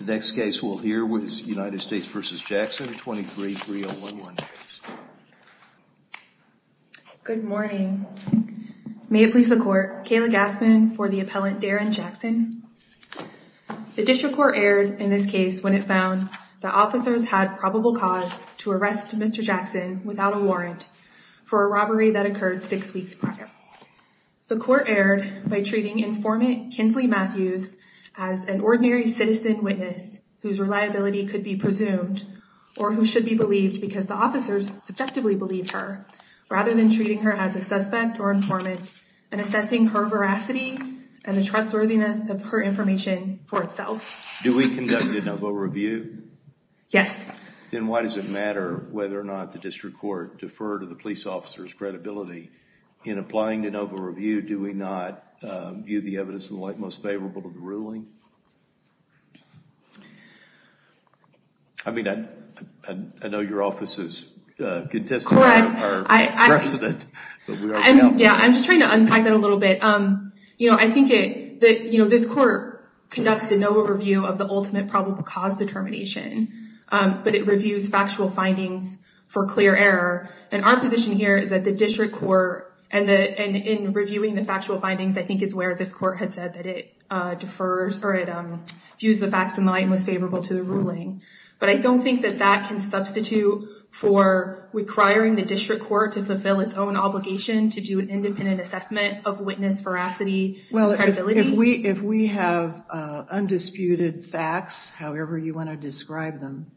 The next case we'll hear was United States v. Jackson, a 23-3-011 case. Good morning. May it please the Court, Kayla Gassman for the appellant Darren Jackson. The District Court erred in this case when it found that officers had probable cause to arrest Mr. Jackson without a warrant for a robbery that occurred six weeks prior. The Court erred by treating informant Kinsley Matthews as an ordinary citizen witness whose reliability could be presumed or who should be believed because the officers subjectively believed her, rather than treating her as a suspect or informant and assessing her veracity and the trustworthiness of her information for itself. Do we conduct a no-vote review? Yes. Then why does it matter whether or not the District Court deferred to the police officer's no-vote review? Do we not view the evidence in the light most favorable to the ruling? I mean, I know your office is contesting our precedent. Yeah, I'm just trying to unpack that a little bit. You know, I think that this Court conducts a no-vote review of the ultimate probable cause determination, but it reviews factual findings for clear error. And our position here is that the District Court, and in reviewing the factual findings, I think is where this Court has said that it defers or it views the facts in light and was favorable to the ruling. But I don't think that that can substitute for requiring the District Court to fulfill its own obligation to do an independent assessment of witness veracity. Well, if we have undisputed facts, however you want to describe them,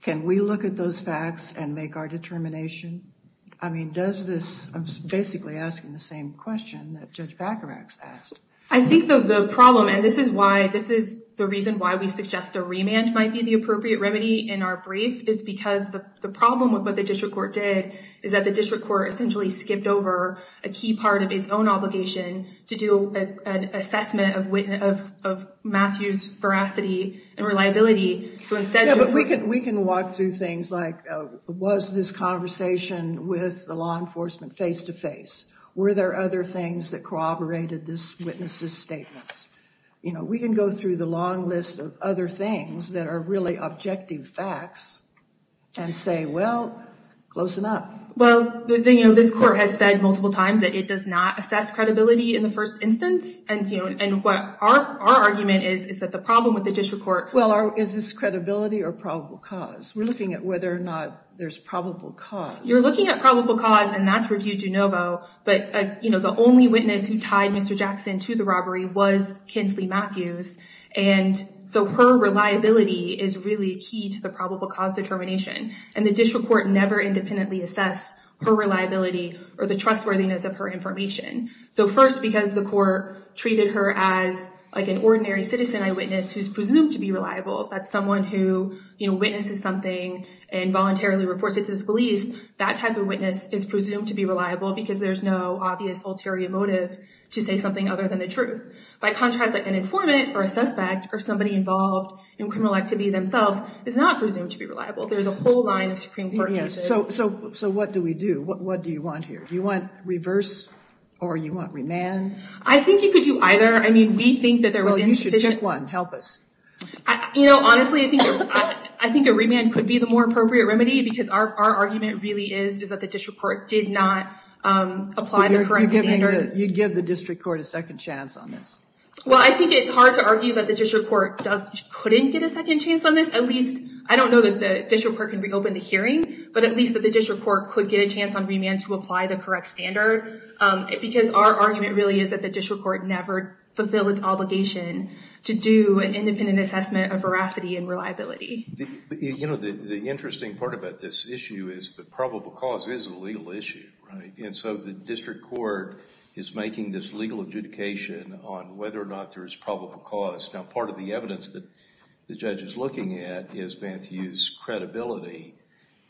can we look at those facts and make our determination? I mean, does this, I'm basically asking the same question that Judge Bacarax asked. I think that the problem, and this is why, this is the reason why we suggest a remand might be the appropriate remedy in our brief, is because the problem with what the District Court did is that the District Court essentially skipped over a key part of its own obligation to do an assessment of Matthew's veracity and reliability. So instead, we can walk through things like was this conversation with the law enforcement face-to-face? Were there other things that corroborated this witness's statements? You know, we can go through the long list of other things that are really objective facts and say, well, close enough. Well, the thing, you know, this Court has said multiple times that it does not assess credibility in the first instance. And, you know, and what our argument is, is that the problem with the District Court... Well, is this credibility or probable cause? We're looking at whether or not there's probable cause. You're looking at probable cause, and that's reviewed de novo, but, you know, the only witness who tied Mr. Jackson to the robbery was Kinsley Matthews, and so her reliability is really key to the probable cause determination. And the District Court never independently assessed her reliability or the trustworthiness of her information. So first, because the Court treated her as like an ordinary citizen eyewitness who's presumed to be reliable, that's someone who, you know, witnesses something and voluntarily reports it to the police, that type of witness is presumed to be reliable because there's no obvious ulterior motive to say something other than the truth. By contrast, like an informant or a suspect or somebody involved in criminal activity themselves is not presumed to be reliable. There's a whole line of Supreme Court cases. So what do we do? What do you want here? Do you want reverse or you want remand? I think you could do either. I mean, we think that there was insufficient... Check one, help us. You know, honestly, I think a remand could be the more appropriate remedy because our argument really is that the District Court did not apply the current standard. You'd give the District Court a second chance on this? Well, I think it's hard to argue that the District Court couldn't get a second chance on this. At least, I don't know that the District Court can reopen the hearing, but at least that the District Court could get a chance on remand to apply the correct standard, because our argument really is that the District Court never fulfilled its obligation to do an independent assessment of veracity and reliability. You know, the interesting part about this issue is that probable cause is a legal issue, right? And so the District Court is making this legal adjudication on whether or not there is probable cause. Now, part of the evidence that the judge is looking at is Banthew's credibility.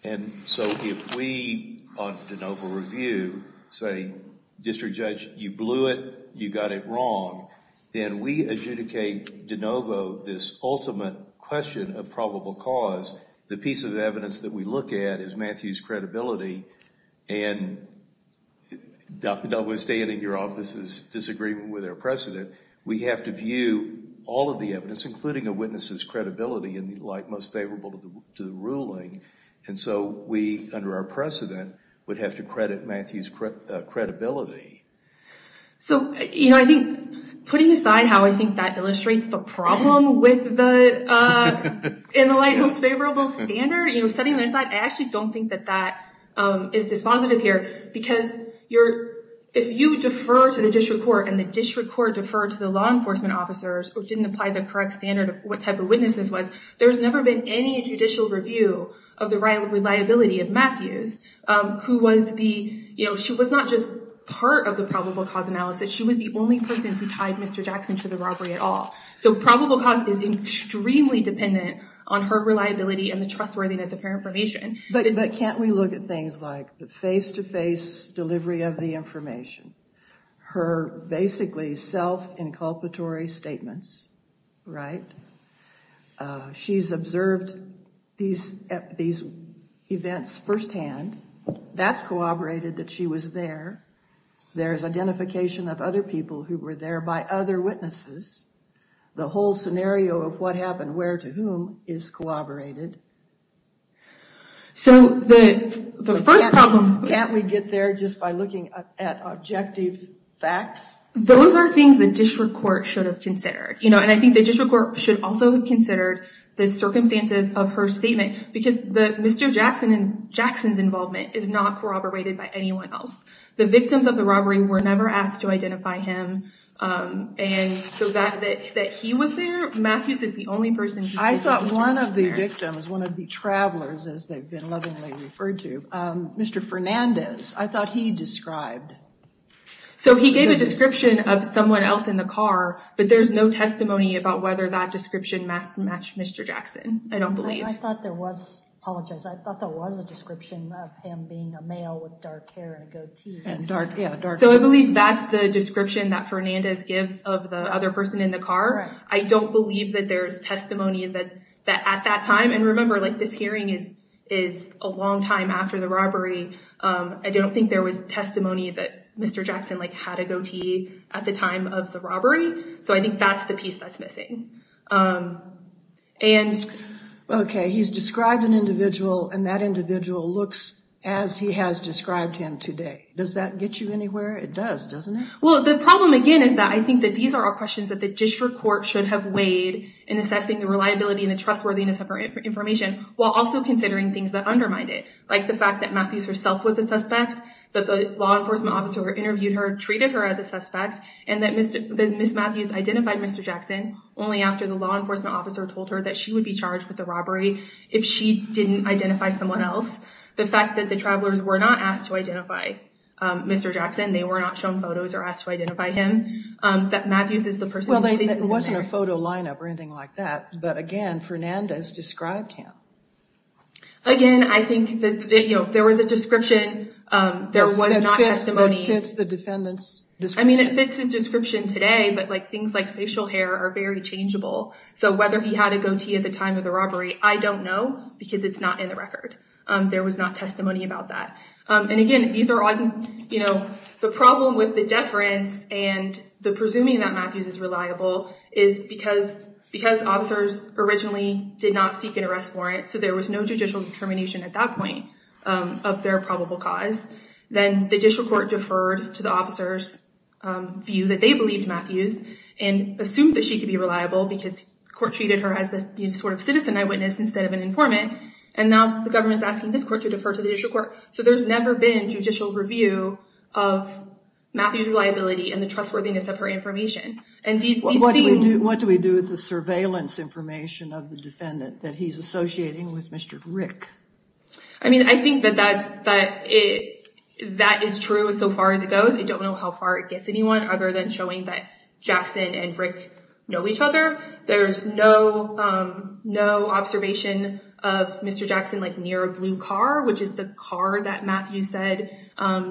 And so if we, on DeNovo review, say, District Judge, you blew it, you got it wrong, then we adjudicate DeNovo this ultimate question of probable cause. The piece of evidence that we look at is Banthew's credibility. And notwithstanding your office's disagreement with our precedent, we have to view all of the evidence, including a witness's credibility, in the light most would have to credit Banthew's credibility. So, you know, I think putting aside how I think that illustrates the problem with the in the light most favorable standard, you know, setting that aside, I actually don't think that that is dispositive here. Because if you defer to the District Court and the District Court deferred to the law enforcement officers or didn't apply the correct standard of what type of witness this was, there's never been any judicial review of the reliability of Matthews, who was the, you know, she was not just part of the probable cause analysis. She was the only person who tied Mr. Jackson to the robbery at all. So probable cause is extremely dependent on her reliability and the trustworthiness of her information. But can't we look at things like the face-to-face delivery of the information, her basically self-inculpatory statements, right? She's observed these events firsthand. That's corroborated that she was there. There's identification of other people who were there by other witnesses. The whole scenario of what happened where to whom is corroborated. So the first problem... Can't we get there just by looking at objective facts? Those are things the District Court should have considered, you know, and I think the District Court should also have considered the circumstances of her statement. Because Mr. Jackson's involvement is not corroborated by anyone else. The victims of the robbery were never asked to identify him. And so that he was there, Matthews is the only person... I thought one of the victims, one of the travelers, as they've been lovingly referred to, Mr. Fernandez, I thought he described... So he gave a description of someone else in the car, but there's no testimony about whether that description matched Mr. Jackson, I don't believe. I thought there was, I apologize, I thought there was a description of him being a male with dark hair and a goatee. And dark, yeah, dark hair. So I believe that's the description that Fernandez gives of the other person in the car. I don't believe that there's testimony that at that time... And remember, this hearing is a long time after the robbery. I don't think there was testimony that Mr. Jackson had a goatee at the time of the robbery. So I think that's the piece that's missing. Okay, he's described an individual and that individual looks as he has described him today. Does that get you anywhere? It does, doesn't it? The problem again is that I think that these are all questions that the district court should have weighed in assessing the reliability and the trustworthiness of her information, while also considering things that undermine it. Like the fact that Matthews herself was a suspect, that the law enforcement officer who interviewed her treated her as a suspect, and that Ms. Matthews identified Mr. Jackson only after the law enforcement officer told her that she would be charged with the robbery if she didn't identify someone else. The fact that the travelers were not asked to identify Mr. Jackson, they were not shown photos or asked to identify him, that Matthews is the person... Well, there wasn't a photo lineup or anything like that. But again, Fernandez described him. Again, I think that there was a description, there was not testimony... That fits the defendant's description. I mean, it fits his description today, but things like facial hair are very changeable. So whether he had a goatee at the time of the robbery, I don't know because it's not in the record. There was not testimony about that. And again, the problem with the deference and the presuming that Matthews is reliable is because officers originally did not seek an arrest warrant, so there was no judicial determination at that point of their probable cause. Then the Judicial Court deferred to the officer's view that they believed Matthews and assumed that she could be reliable because the court treated her as the sort of citizen eyewitness instead of an informant. And now the government is asking this court to defer to the Judicial Court. So there's never been judicial review of Matthews' reliability and the trustworthiness of her information. What do we do with the surveillance information of the defendant that he's associating with Mr. Rick? I mean, I think that is true so far as it goes. I don't know how far it gets anyone other than showing that Jackson and Rick know each other. There's no observation of Mr. Jackson near a blue car, which is the car that Matthews said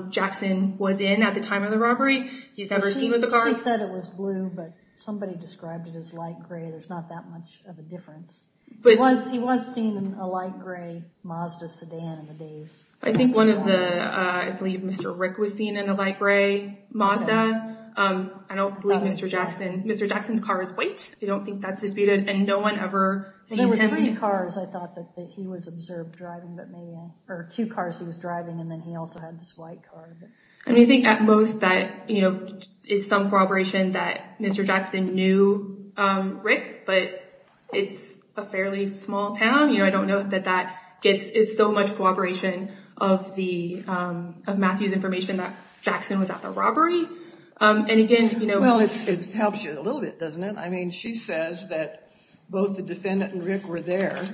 Jackson was in at the time of the robbery. He's never seen with the car. He said it was blue, but somebody described it as light gray. There's not that much of a difference. He was seen in a light gray Mazda sedan in the days. I think one of the, I believe Mr. Rick was seen in a light gray Mazda. I don't believe Mr. Jackson. Mr. Jackson's car is white. I don't think that's disputed. And no one ever sees him. There were three cars I thought that he was observed driving, or two cars he was driving. And then he also had this white car. And I think at most that is some corroboration that Mr. Jackson knew Rick, but it's a fairly small town. I don't know that that is so much corroboration of Matthew's information that Jackson was at the robbery. And again, you know- Well, it helps you a little bit, doesn't it? I mean, she says that both the defendant and Rick were there.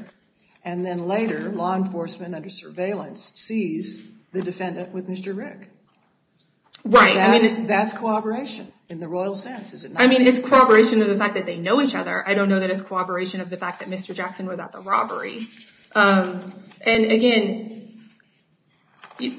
And then later, law enforcement under surveillance sees the defendant with Mr. Rick. Right. That's corroboration in the royal sense, is it not? I mean, it's corroboration of the fact that they know each other. I don't know that it's corroboration of the fact that Mr. Jackson was at the robbery. And again, I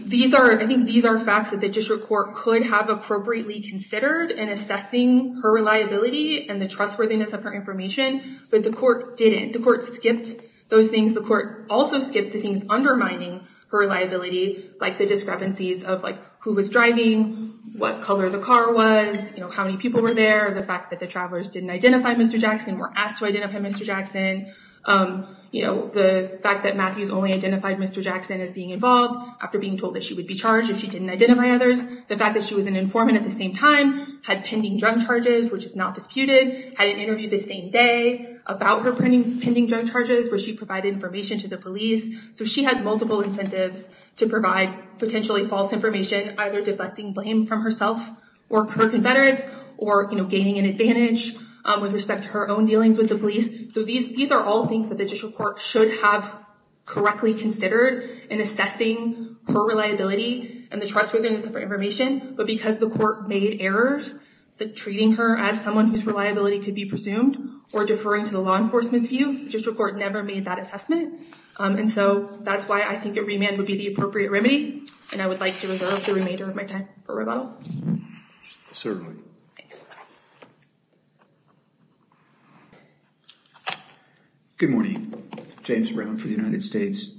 think these are facts that the district court could have appropriately considered in assessing her reliability and the trustworthiness of her information. But the court didn't. The court skipped those things. The court also skipped the things undermining her reliability, like the discrepancies of who was driving, what color the car was, how many people were there. The fact that the travelers didn't identify Mr. Jackson, were asked to identify Mr. Jackson. The fact that Matthews only identified Mr. Jackson as being involved after being told that she would be charged if she didn't identify others. The fact that she was an informant at the same time, had pending drug charges, which is not disputed, had an interview the same day about her pending drug charges, where she provided information to the police. So she had multiple incentives to provide potentially false information, either deflecting blame from herself or her confederates, or gaining an advantage with respect to her own dealings with the police. So these are all things that the district court should have correctly considered in assessing her reliability and the trustworthiness of her information. But because the court made errors, treating her as someone whose reliability could be presumed, or deferring to the law enforcement's view, the district court never made that assessment. And so that's why I think a remand would be the appropriate remedy. And I would like to reserve the remainder of my time for rebuttal. Certainly. Good morning. James Brown for the United States.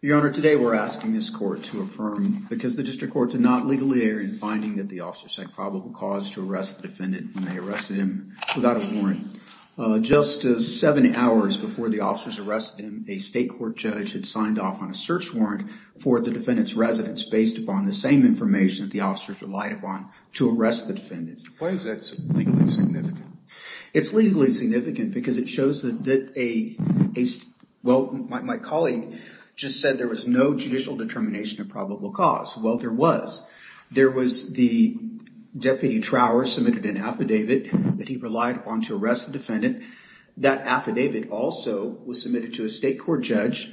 Your Honor, today we're asking this court to affirm, because the district court did not legally err in finding that the officer said probable cause to arrest the defendant when they arrested him without a warrant. Just seven hours before the officers arrested him, a state court judge had signed off on a search warrant for the defendant's residence based upon the same information that the officers relied upon to arrest the defendant. Why is that legally significant? It's legally significant because it shows that a... Well, my colleague just said there was no judicial determination of probable cause. Well, there was. There was the deputy trower submitted an affidavit that he relied upon to arrest the defendant. That affidavit also was submitted to a state court judge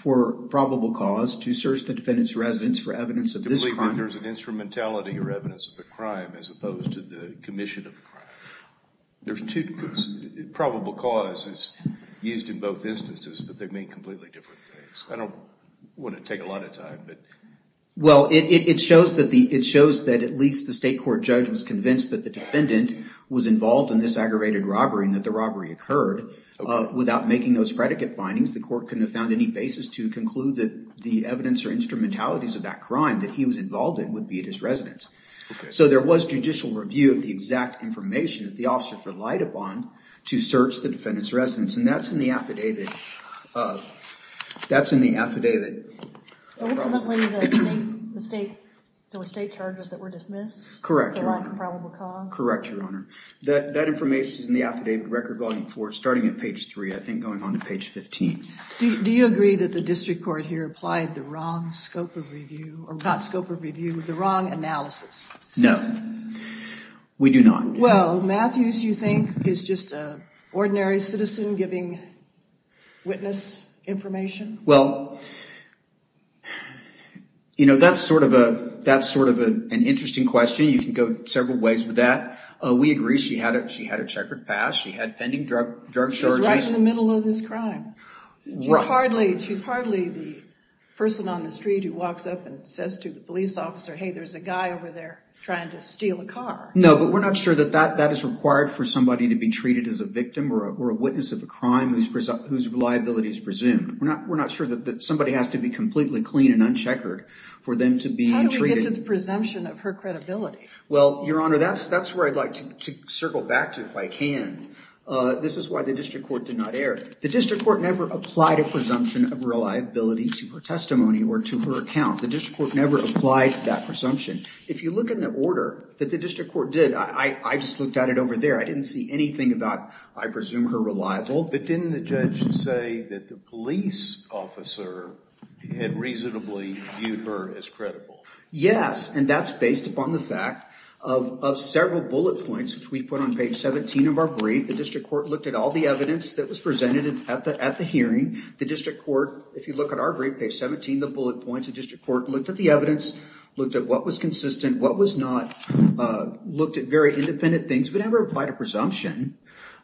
for probable cause to search the defendant's residence for evidence of this crime. There's an instrumentality or evidence of the crime as opposed to the commission of crime. There's two probable causes used in both instances, but they mean completely different things. I don't want to take a lot of time, but... Well, it shows that at least the state court judge was convinced that the defendant was involved in this aggravated robbery and that the robbery occurred. Without making those predicate findings, the court couldn't have found any basis to conclude that the evidence or instrumentalities of that crime that he was involved in would be at his residence. So there was judicial review of the exact information that the officers relied upon to search the defendant's residence. And that's in the affidavit of... That's in the affidavit of... Ultimately, the state charges that were dismissed? Correct, Your Honor. They're on comparable cause? Correct, Your Honor. That information is in the affidavit record volume four, starting at page three, I think going on to page 15. Do you agree that the district court here applied the wrong scope of review, or not scope of review, the wrong analysis? No, we do not. Well, Matthews, you think, is just an ordinary citizen giving witness information? Well, you know, that's sort of an interesting question. You can go several ways with that. We agree she had a checkered past. She had pending drug charges. She was right in the middle of this crime. She's hardly the person on the street who walks up and says to the police officer, hey, there's a guy over there trying to steal a car. No, but we're not sure that that is required for somebody to be treated as a victim or a witness of a crime whose reliability is presumed. We're not sure that somebody has to be completely clean and uncheckered for them to be treated. How do we get to the presumption of her credibility? Well, Your Honor, that's where I'd like to circle back to, if I can. This is why the district court did not err. The district court never applied a presumption of reliability to her testimony or to her account. The district court never applied that presumption. If you look in the order that the district court did, I just looked at it over there. I didn't see anything about, I presume, her reliability. But didn't the judge say that the police officer had reasonably viewed her as credible? Yes, and that's based upon the fact of several bullet points, which we put on page 17 of our brief. The district court looked at all the evidence that was presented at the hearing. The district court, if you look at our brief, page 17, the bullet points, the district court looked at the evidence, looked at what was consistent, what was not, looked at very independent things. We never applied a presumption.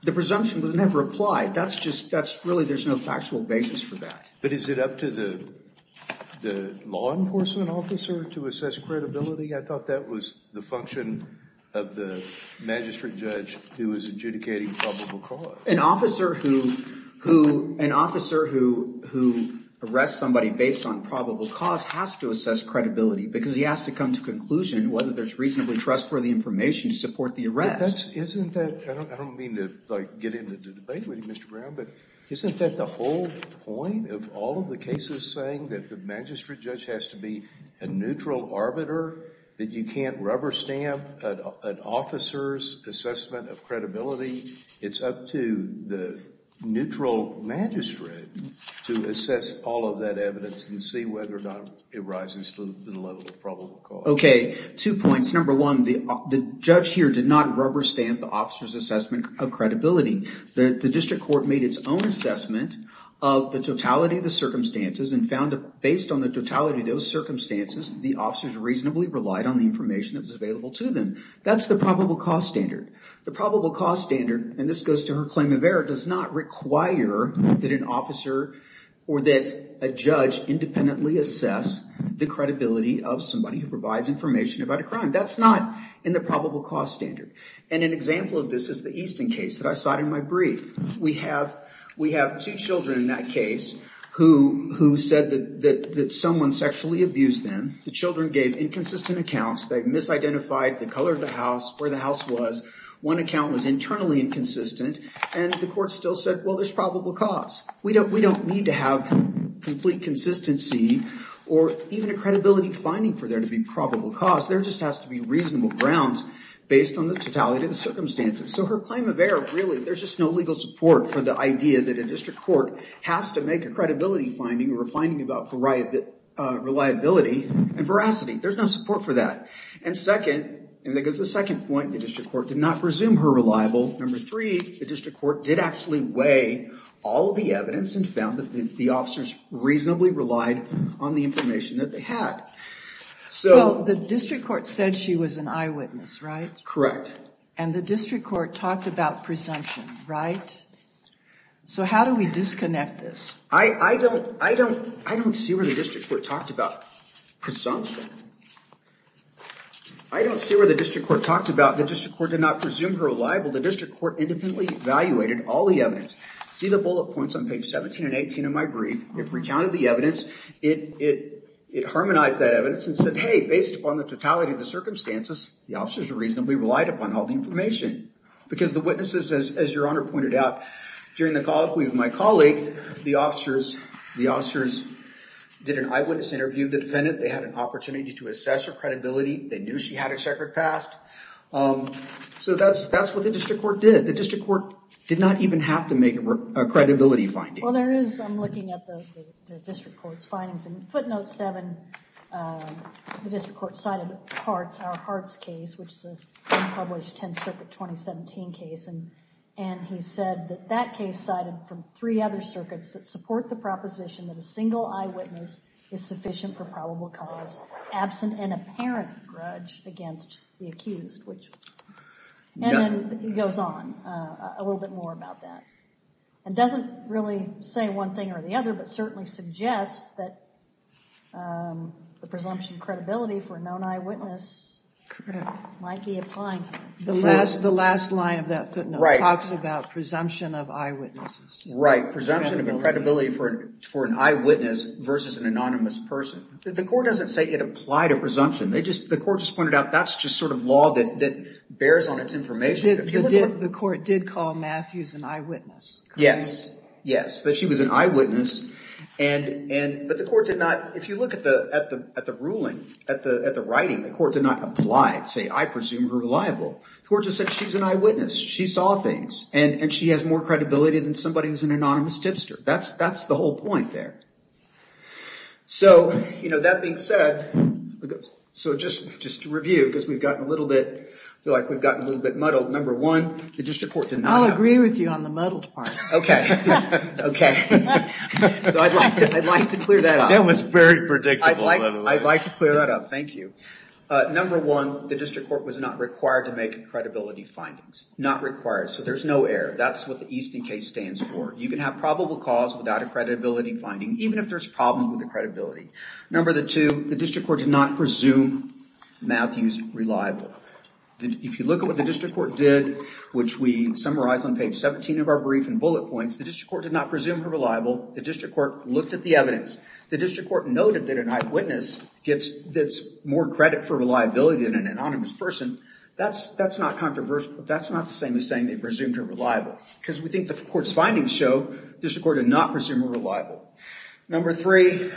The presumption was never applied. That's just, that's really, there's no factual basis for that. But is it up to the law enforcement officer to assess credibility? I thought that was the function of the magistrate judge who was adjudicating probable cause. An officer who arrests somebody based on probable cause has to assess credibility because he has to come to conclusion whether there's reasonably trustworthy information to support the arrest. Isn't that, I don't mean to get into the debate with you, Mr. Brown, but isn't that the whole point of all of the cases saying that the magistrate judge has to be a neutral arbiter, that you can't rubber stamp an officer's assessment of credibility? It's up to the neutral magistrate to assess all of that evidence and see whether or not it rises to the level of probable cause. Okay, two points. Number one, the judge here did not rubber stamp the officer's assessment of credibility. The district court made its own assessment of the totality of the circumstances and found that based on the totality of those circumstances, the officers reasonably relied on the information that was available to them. That's the probable cause standard. The probable cause standard, and this goes to her claim of error, does not require that an officer or that a judge independently assess the credibility of somebody who provides information about a crime. That's not in the probable cause standard. And an example of this is the Easton case that I cited in my brief. We have two children in that case who said that someone sexually abused them. The children gave inconsistent accounts. They've misidentified the color of the house, where the house was. One account was internally inconsistent and the court still said, well, there's probable cause. We don't need to have complete consistency or even a credibility finding for there to be probable cause. There just has to be reasonable grounds based on the totality of the circumstances. So her claim of error, really, there's just no legal support for the idea that a district court has to make a credibility finding or a finding about reliability and veracity. There's no support for that. And second, and that goes to the second point, the district court did not presume her reliable. Number three, the district court did actually weigh all of the evidence and found that the officers reasonably relied on the information that they had. So the district court said she was an eyewitness, right? Correct. And the district court talked about presumption, right? So how do we disconnect this? I don't see where the district court talked about presumption. I don't see where the district court talked about the district court did not presume her reliable. The district court independently evaluated all the evidence. See the bullet points on page 17 and 18 of my brief. It recounted the evidence. It harmonized that evidence and said, hey, based upon the totality of the circumstances, the officers reasonably relied upon all the information. Because the witnesses, as your honor pointed out, during the colloquy with my colleague, the officers did an eyewitness interview of the defendant. They had an opportunity to assess her credibility. They knew she had a checkered past. So that's what the district court did. The district court did not even have to make a credibility finding. Well, there is, I'm looking at the district court's findings. Footnote 7, the district court cited Hart's case, which is an unpublished 10th Circuit 2017 case. And he said that that case cited from three other circuits that support the proposition that a single eyewitness is sufficient for probable cause, absent an apparent grudge against the accused. And then he goes on a little bit more about that. And doesn't really say one thing or the other, but certainly suggests that the presumption of credibility for a known eyewitness might be applying here. The last line of that footnote talks about presumption of eyewitnesses. Right, presumption of credibility for an eyewitness versus an anonymous person. The court doesn't say it applied a presumption. The court just pointed out that's just sort of law that bears on its information. The court did call Matthews an eyewitness. Yes, yes. She was an eyewitness. But the court did not, if you look at the ruling, at the writing, the court did not apply it. Say, I presume you're reliable. The court just said, she's an eyewitness. She saw things. And she has more credibility than somebody who's an anonymous tipster. That's the whole point there. So, you know, that being said, so just to review, because we've gotten a little bit, I feel like we've gotten a little bit muddled. Number one, the district court did not. I'll agree with you on the muddled part. OK. OK. So I'd like to clear that up. That was very predictable. I'd like to clear that up. Thank you. Number one, the district court was not required to make credibility findings. Not required. So there's no error. That's what the Easton case stands for. You can have probable cause without a credibility finding, even if there's problems with the credibility. Number two, the district court did not presume Matthews reliable. If you look at what the district court did, which we summarize on page 17 of our brief and bullet points, the district court did not presume her reliable. The district court looked at the evidence. The district court noted that an eyewitness gets that's more credit for reliability than an anonymous person. That's not controversial. That's not the same as saying they presumed her reliable because we think the court's findings show the district court did not presume her reliable. Number three,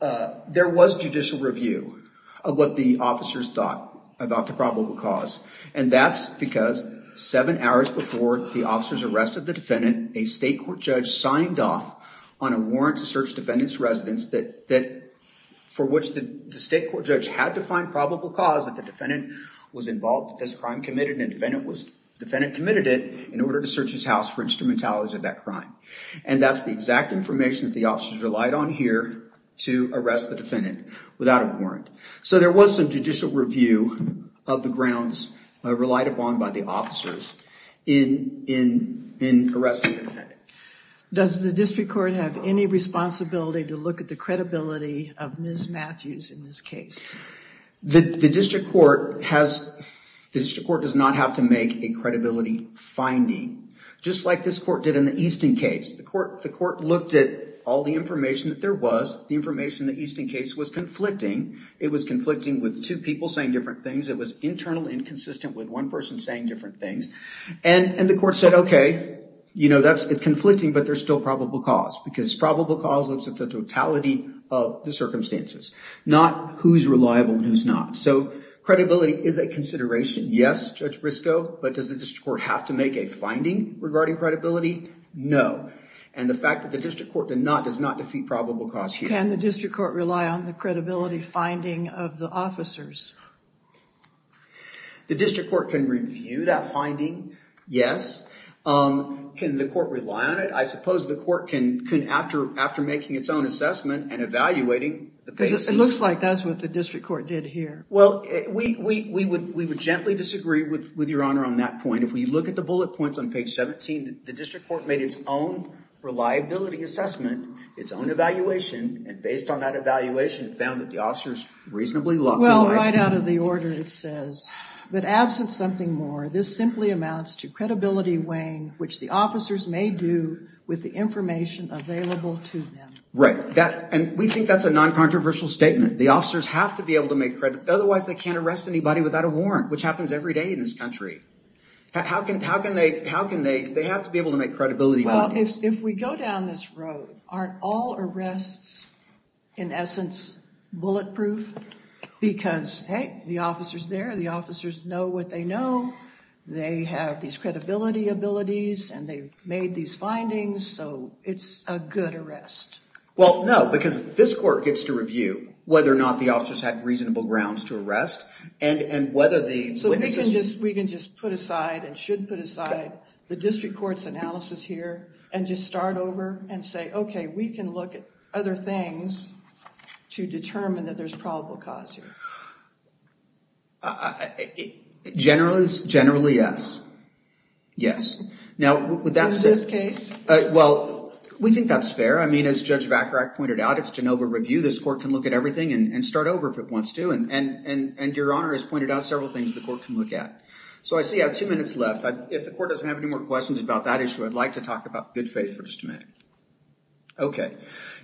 there was judicial review of what the officers thought about the probable cause. And that's because seven hours before the officers arrested the defendant, a state court judge signed off on a warrant to search defendant's residence for which the state court judge had to find probable cause that the defendant was involved with this crime committed and the defendant committed it in order to search his house for instrumentality of that crime. And that's the exact information that the officers relied on here to arrest the defendant without a warrant. So there was some judicial review of the grounds relied upon by the officers in arresting the defendant. Does the district court have any responsibility to look at the credibility of Ms. Matthews in this case? The district court has, the district court does not have to make a credibility finding just like this court did in the Easton case. The court looked at all the information that there was, the information in the Easton case was conflicting. It was conflicting with two people saying different things. It was internal inconsistent with one person saying different things. And the court said, OK, you know, that's conflicting, but there's still probable cause because probable cause looks at the totality of the circumstances, not who's reliable and who's not. So credibility is a consideration. Yes, Judge Briscoe, but does the district court have to make a finding regarding credibility? No. And the fact that the district court did not does not defeat probable cause here. Can the district court rely on the credibility finding of the officers? The district court can review that finding, yes. Can the court rely on it? I suppose the court can after making its own assessment and evaluating the basis. It looks like that's what the district court did here. Well, we would gently disagree with your honor on that point. If we look at the bullet points on page 17, the district court made its own reliability assessment, its own evaluation. And based on that evaluation, it found that the officers reasonably likely. Well, right out of the order, but absent something more, this simply amounts to credibility weighing, which the officers may do with the information available to them. Right. And we think that's a non-controversial statement. The officers have to be able to make credit. Otherwise, they can't arrest anybody without a warrant, which happens every day in this country. How can they? How can they? They have to be able to make credibility. Well, if we go down this road, aren't all arrests in essence bulletproof? Because, hey, the officer's there. The officers know what they know. They have these credibility abilities. And they've made these findings. So it's a good arrest. Well, no, because this court gets to review whether or not the officers had reasonable grounds to arrest. And whether the witnesses- We can just put aside and should put aside the district court's analysis here and just start over and say, OK, we can look at other things to determine that there's probable cause here. It generally is, generally, yes. Yes. Now, would that say- In this case? Well, we think that's fair. I mean, as Judge Vacarak pointed out, it's de novo review. This court can look at everything and start over if it wants to. And your Honor has pointed out several things the court can look at. So I see I have two minutes left. If the court doesn't have any more questions about that issue, I'd like to talk about good faith for just a minute. OK.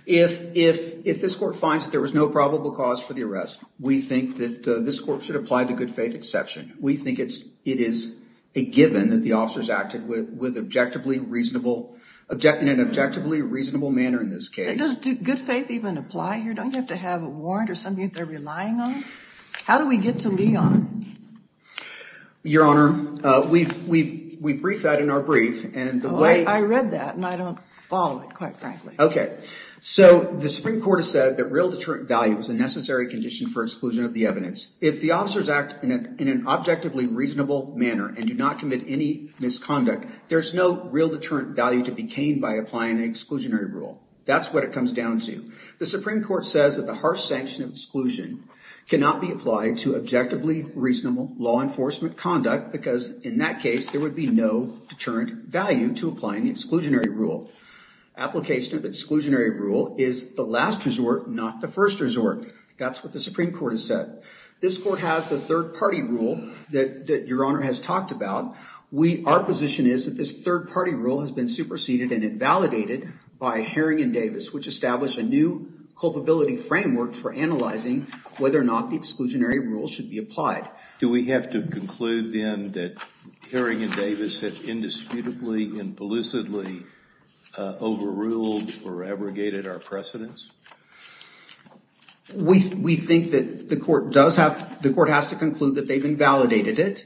If this court finds that there was no probable cause for the arrest, we think that this court should apply the good faith exception. We think it is a given that the officers acted in an objectively reasonable manner in this case. Does good faith even apply here? Don't you have to have a warrant or something that they're relying on? How do we get to Leon? Your Honor, we briefed that in our brief and the way- I read that and I don't follow it, quite frankly. OK. So the Supreme Court has said that real deterrent value is a necessary condition for exclusion of the evidence. If the officers act in an objectively reasonable manner and do not commit any misconduct, there's no real deterrent value to be gained by applying an exclusionary rule. That's what it comes down to. The Supreme Court says that the harsh sanction of exclusion cannot be applied to objectively reasonable law enforcement conduct because in that case, there would be no deterrent value to applying the exclusionary rule. Application of exclusionary rule is the last resort, not the first resort. That's what the Supreme Court has said. This court has a third-party rule that your Honor has talked about. Our position is that this third-party rule has been superseded and invalidated by Haring and Davis, which established a new culpability framework for analyzing whether or not the exclusionary rule should be applied. Do we have to conclude then that Haring and Davis have indisputably and pellucidly overruled or abrogated our precedence? We think that the court has to conclude that they've invalidated it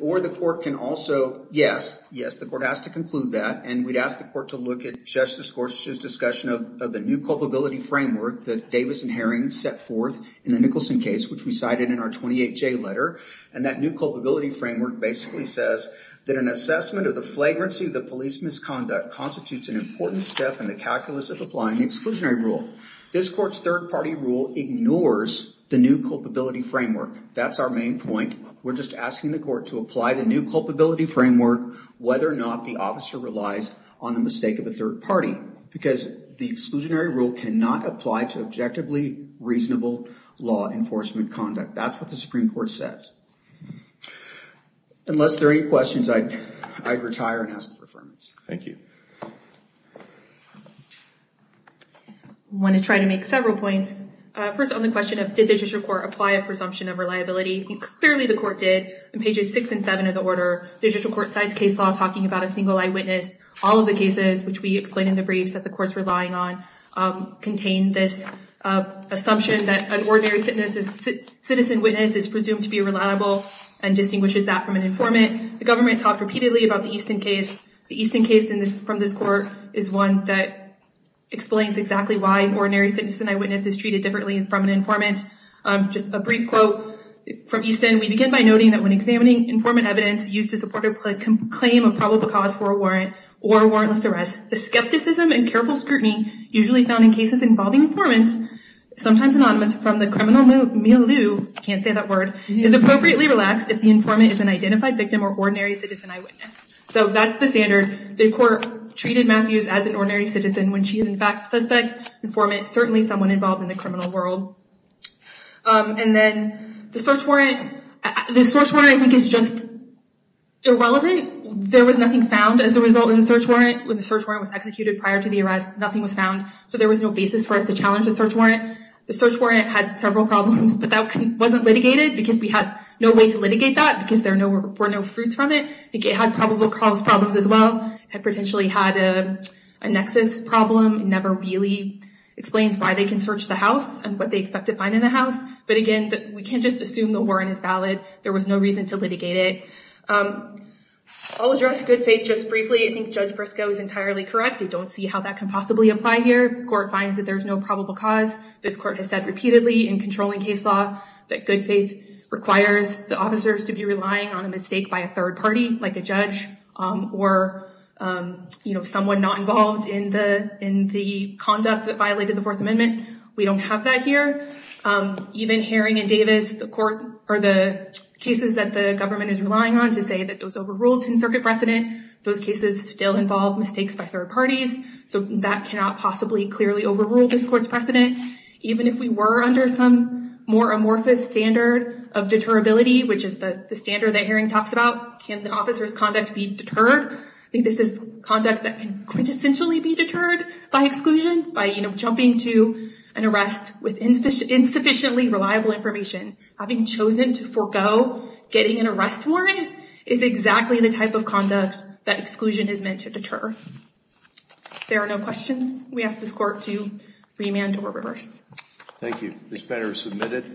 or the court can also, yes, yes, the court has to conclude that and we'd ask the court to look at Justice Gorsuch's discussion of the new culpability framework that Davis and Haring set forth in the Nicholson case, which we cited in our 28J letter. And that new culpability framework basically says that an assessment of the flagrancy of the police misconduct constitutes an important step in the calculus of applying the exclusionary rule. This court's third party rule ignores the new culpability framework. That's our main point. We're just asking the court to apply the new culpability framework whether or not the officer relies on the mistake of a third party because the exclusionary rule cannot apply to objectively reasonable law enforcement conduct. That's what the Supreme Court says. Unless there are any questions, I'd retire and ask for affirmance. Thank you. I want to try to make several points. First on the question of did the judicial court apply a presumption of reliability? Clearly the court did. In pages six and seven of the order, the judicial court cites case law talking about a single eyewitness. All of the cases, which we explain in the briefs that the court's relying on, contain this assumption that an ordinary citizen witness is presumed to be reliable and distinguishes that from an informant. The government talked repeatedly about the Easton case. The Easton case in this case is one that explains exactly why an ordinary citizen eyewitness is treated differently from an informant. Just a brief quote from Easton. We begin by noting that when examining informant evidence used to support a claim of probable cause for a warrant or a warrantless arrest, the skepticism and careful scrutiny usually found in cases involving informants, sometimes anonymous, from the criminal milieu, can't say that word, is appropriately relaxed if the informant is an identified victim or ordinary citizen eyewitness. So that's the standard. The court treated Matthews as an ordinary citizen when she is, in fact, suspect, informant, certainly someone involved in the criminal world. And then the search warrant. The search warrant, I think, is just irrelevant. There was nothing found as a result of the search warrant. When the search warrant was executed prior to the arrest, nothing was found. So there was no basis for us to challenge the search warrant. The search warrant had several problems, but that wasn't litigated because we had no way to litigate that because there were no fruits from it. It had probable cause problems as well. It potentially had a nexus problem. It never really explains why they can search the house and what they expect to find in the house. But again, we can't just assume the warrant is valid. There was no reason to litigate it. I'll address good faith just briefly. I think Judge Briscoe is entirely correct. We don't see how that can possibly apply here. The court finds that there is no probable cause. This court has said repeatedly in controlling case law that good faith requires the officers to be relying on a mistake by a third party, like a judge, or someone not involved in the conduct that violated the Fourth Amendment. We don't have that here. Even Herring and Davis, the court, or the cases that the government is relying on to say that those overruled ten circuit precedent, those cases still involve mistakes by third parties. So that cannot possibly clearly overrule this court's precedent. Even if we were under some more amorphous standard of deterability, which is the standard that Herring talks about, can the officer's conduct be deterred? I think this is conduct that can quintessentially be deterred by exclusion by jumping to an arrest with insufficiently reliable information. Having chosen to forgo getting an arrest warrant is exactly the type of conduct that exclusion is meant to deter. If there are no questions, we ask this court to remand or reverse. Thank you. This matter is submitted.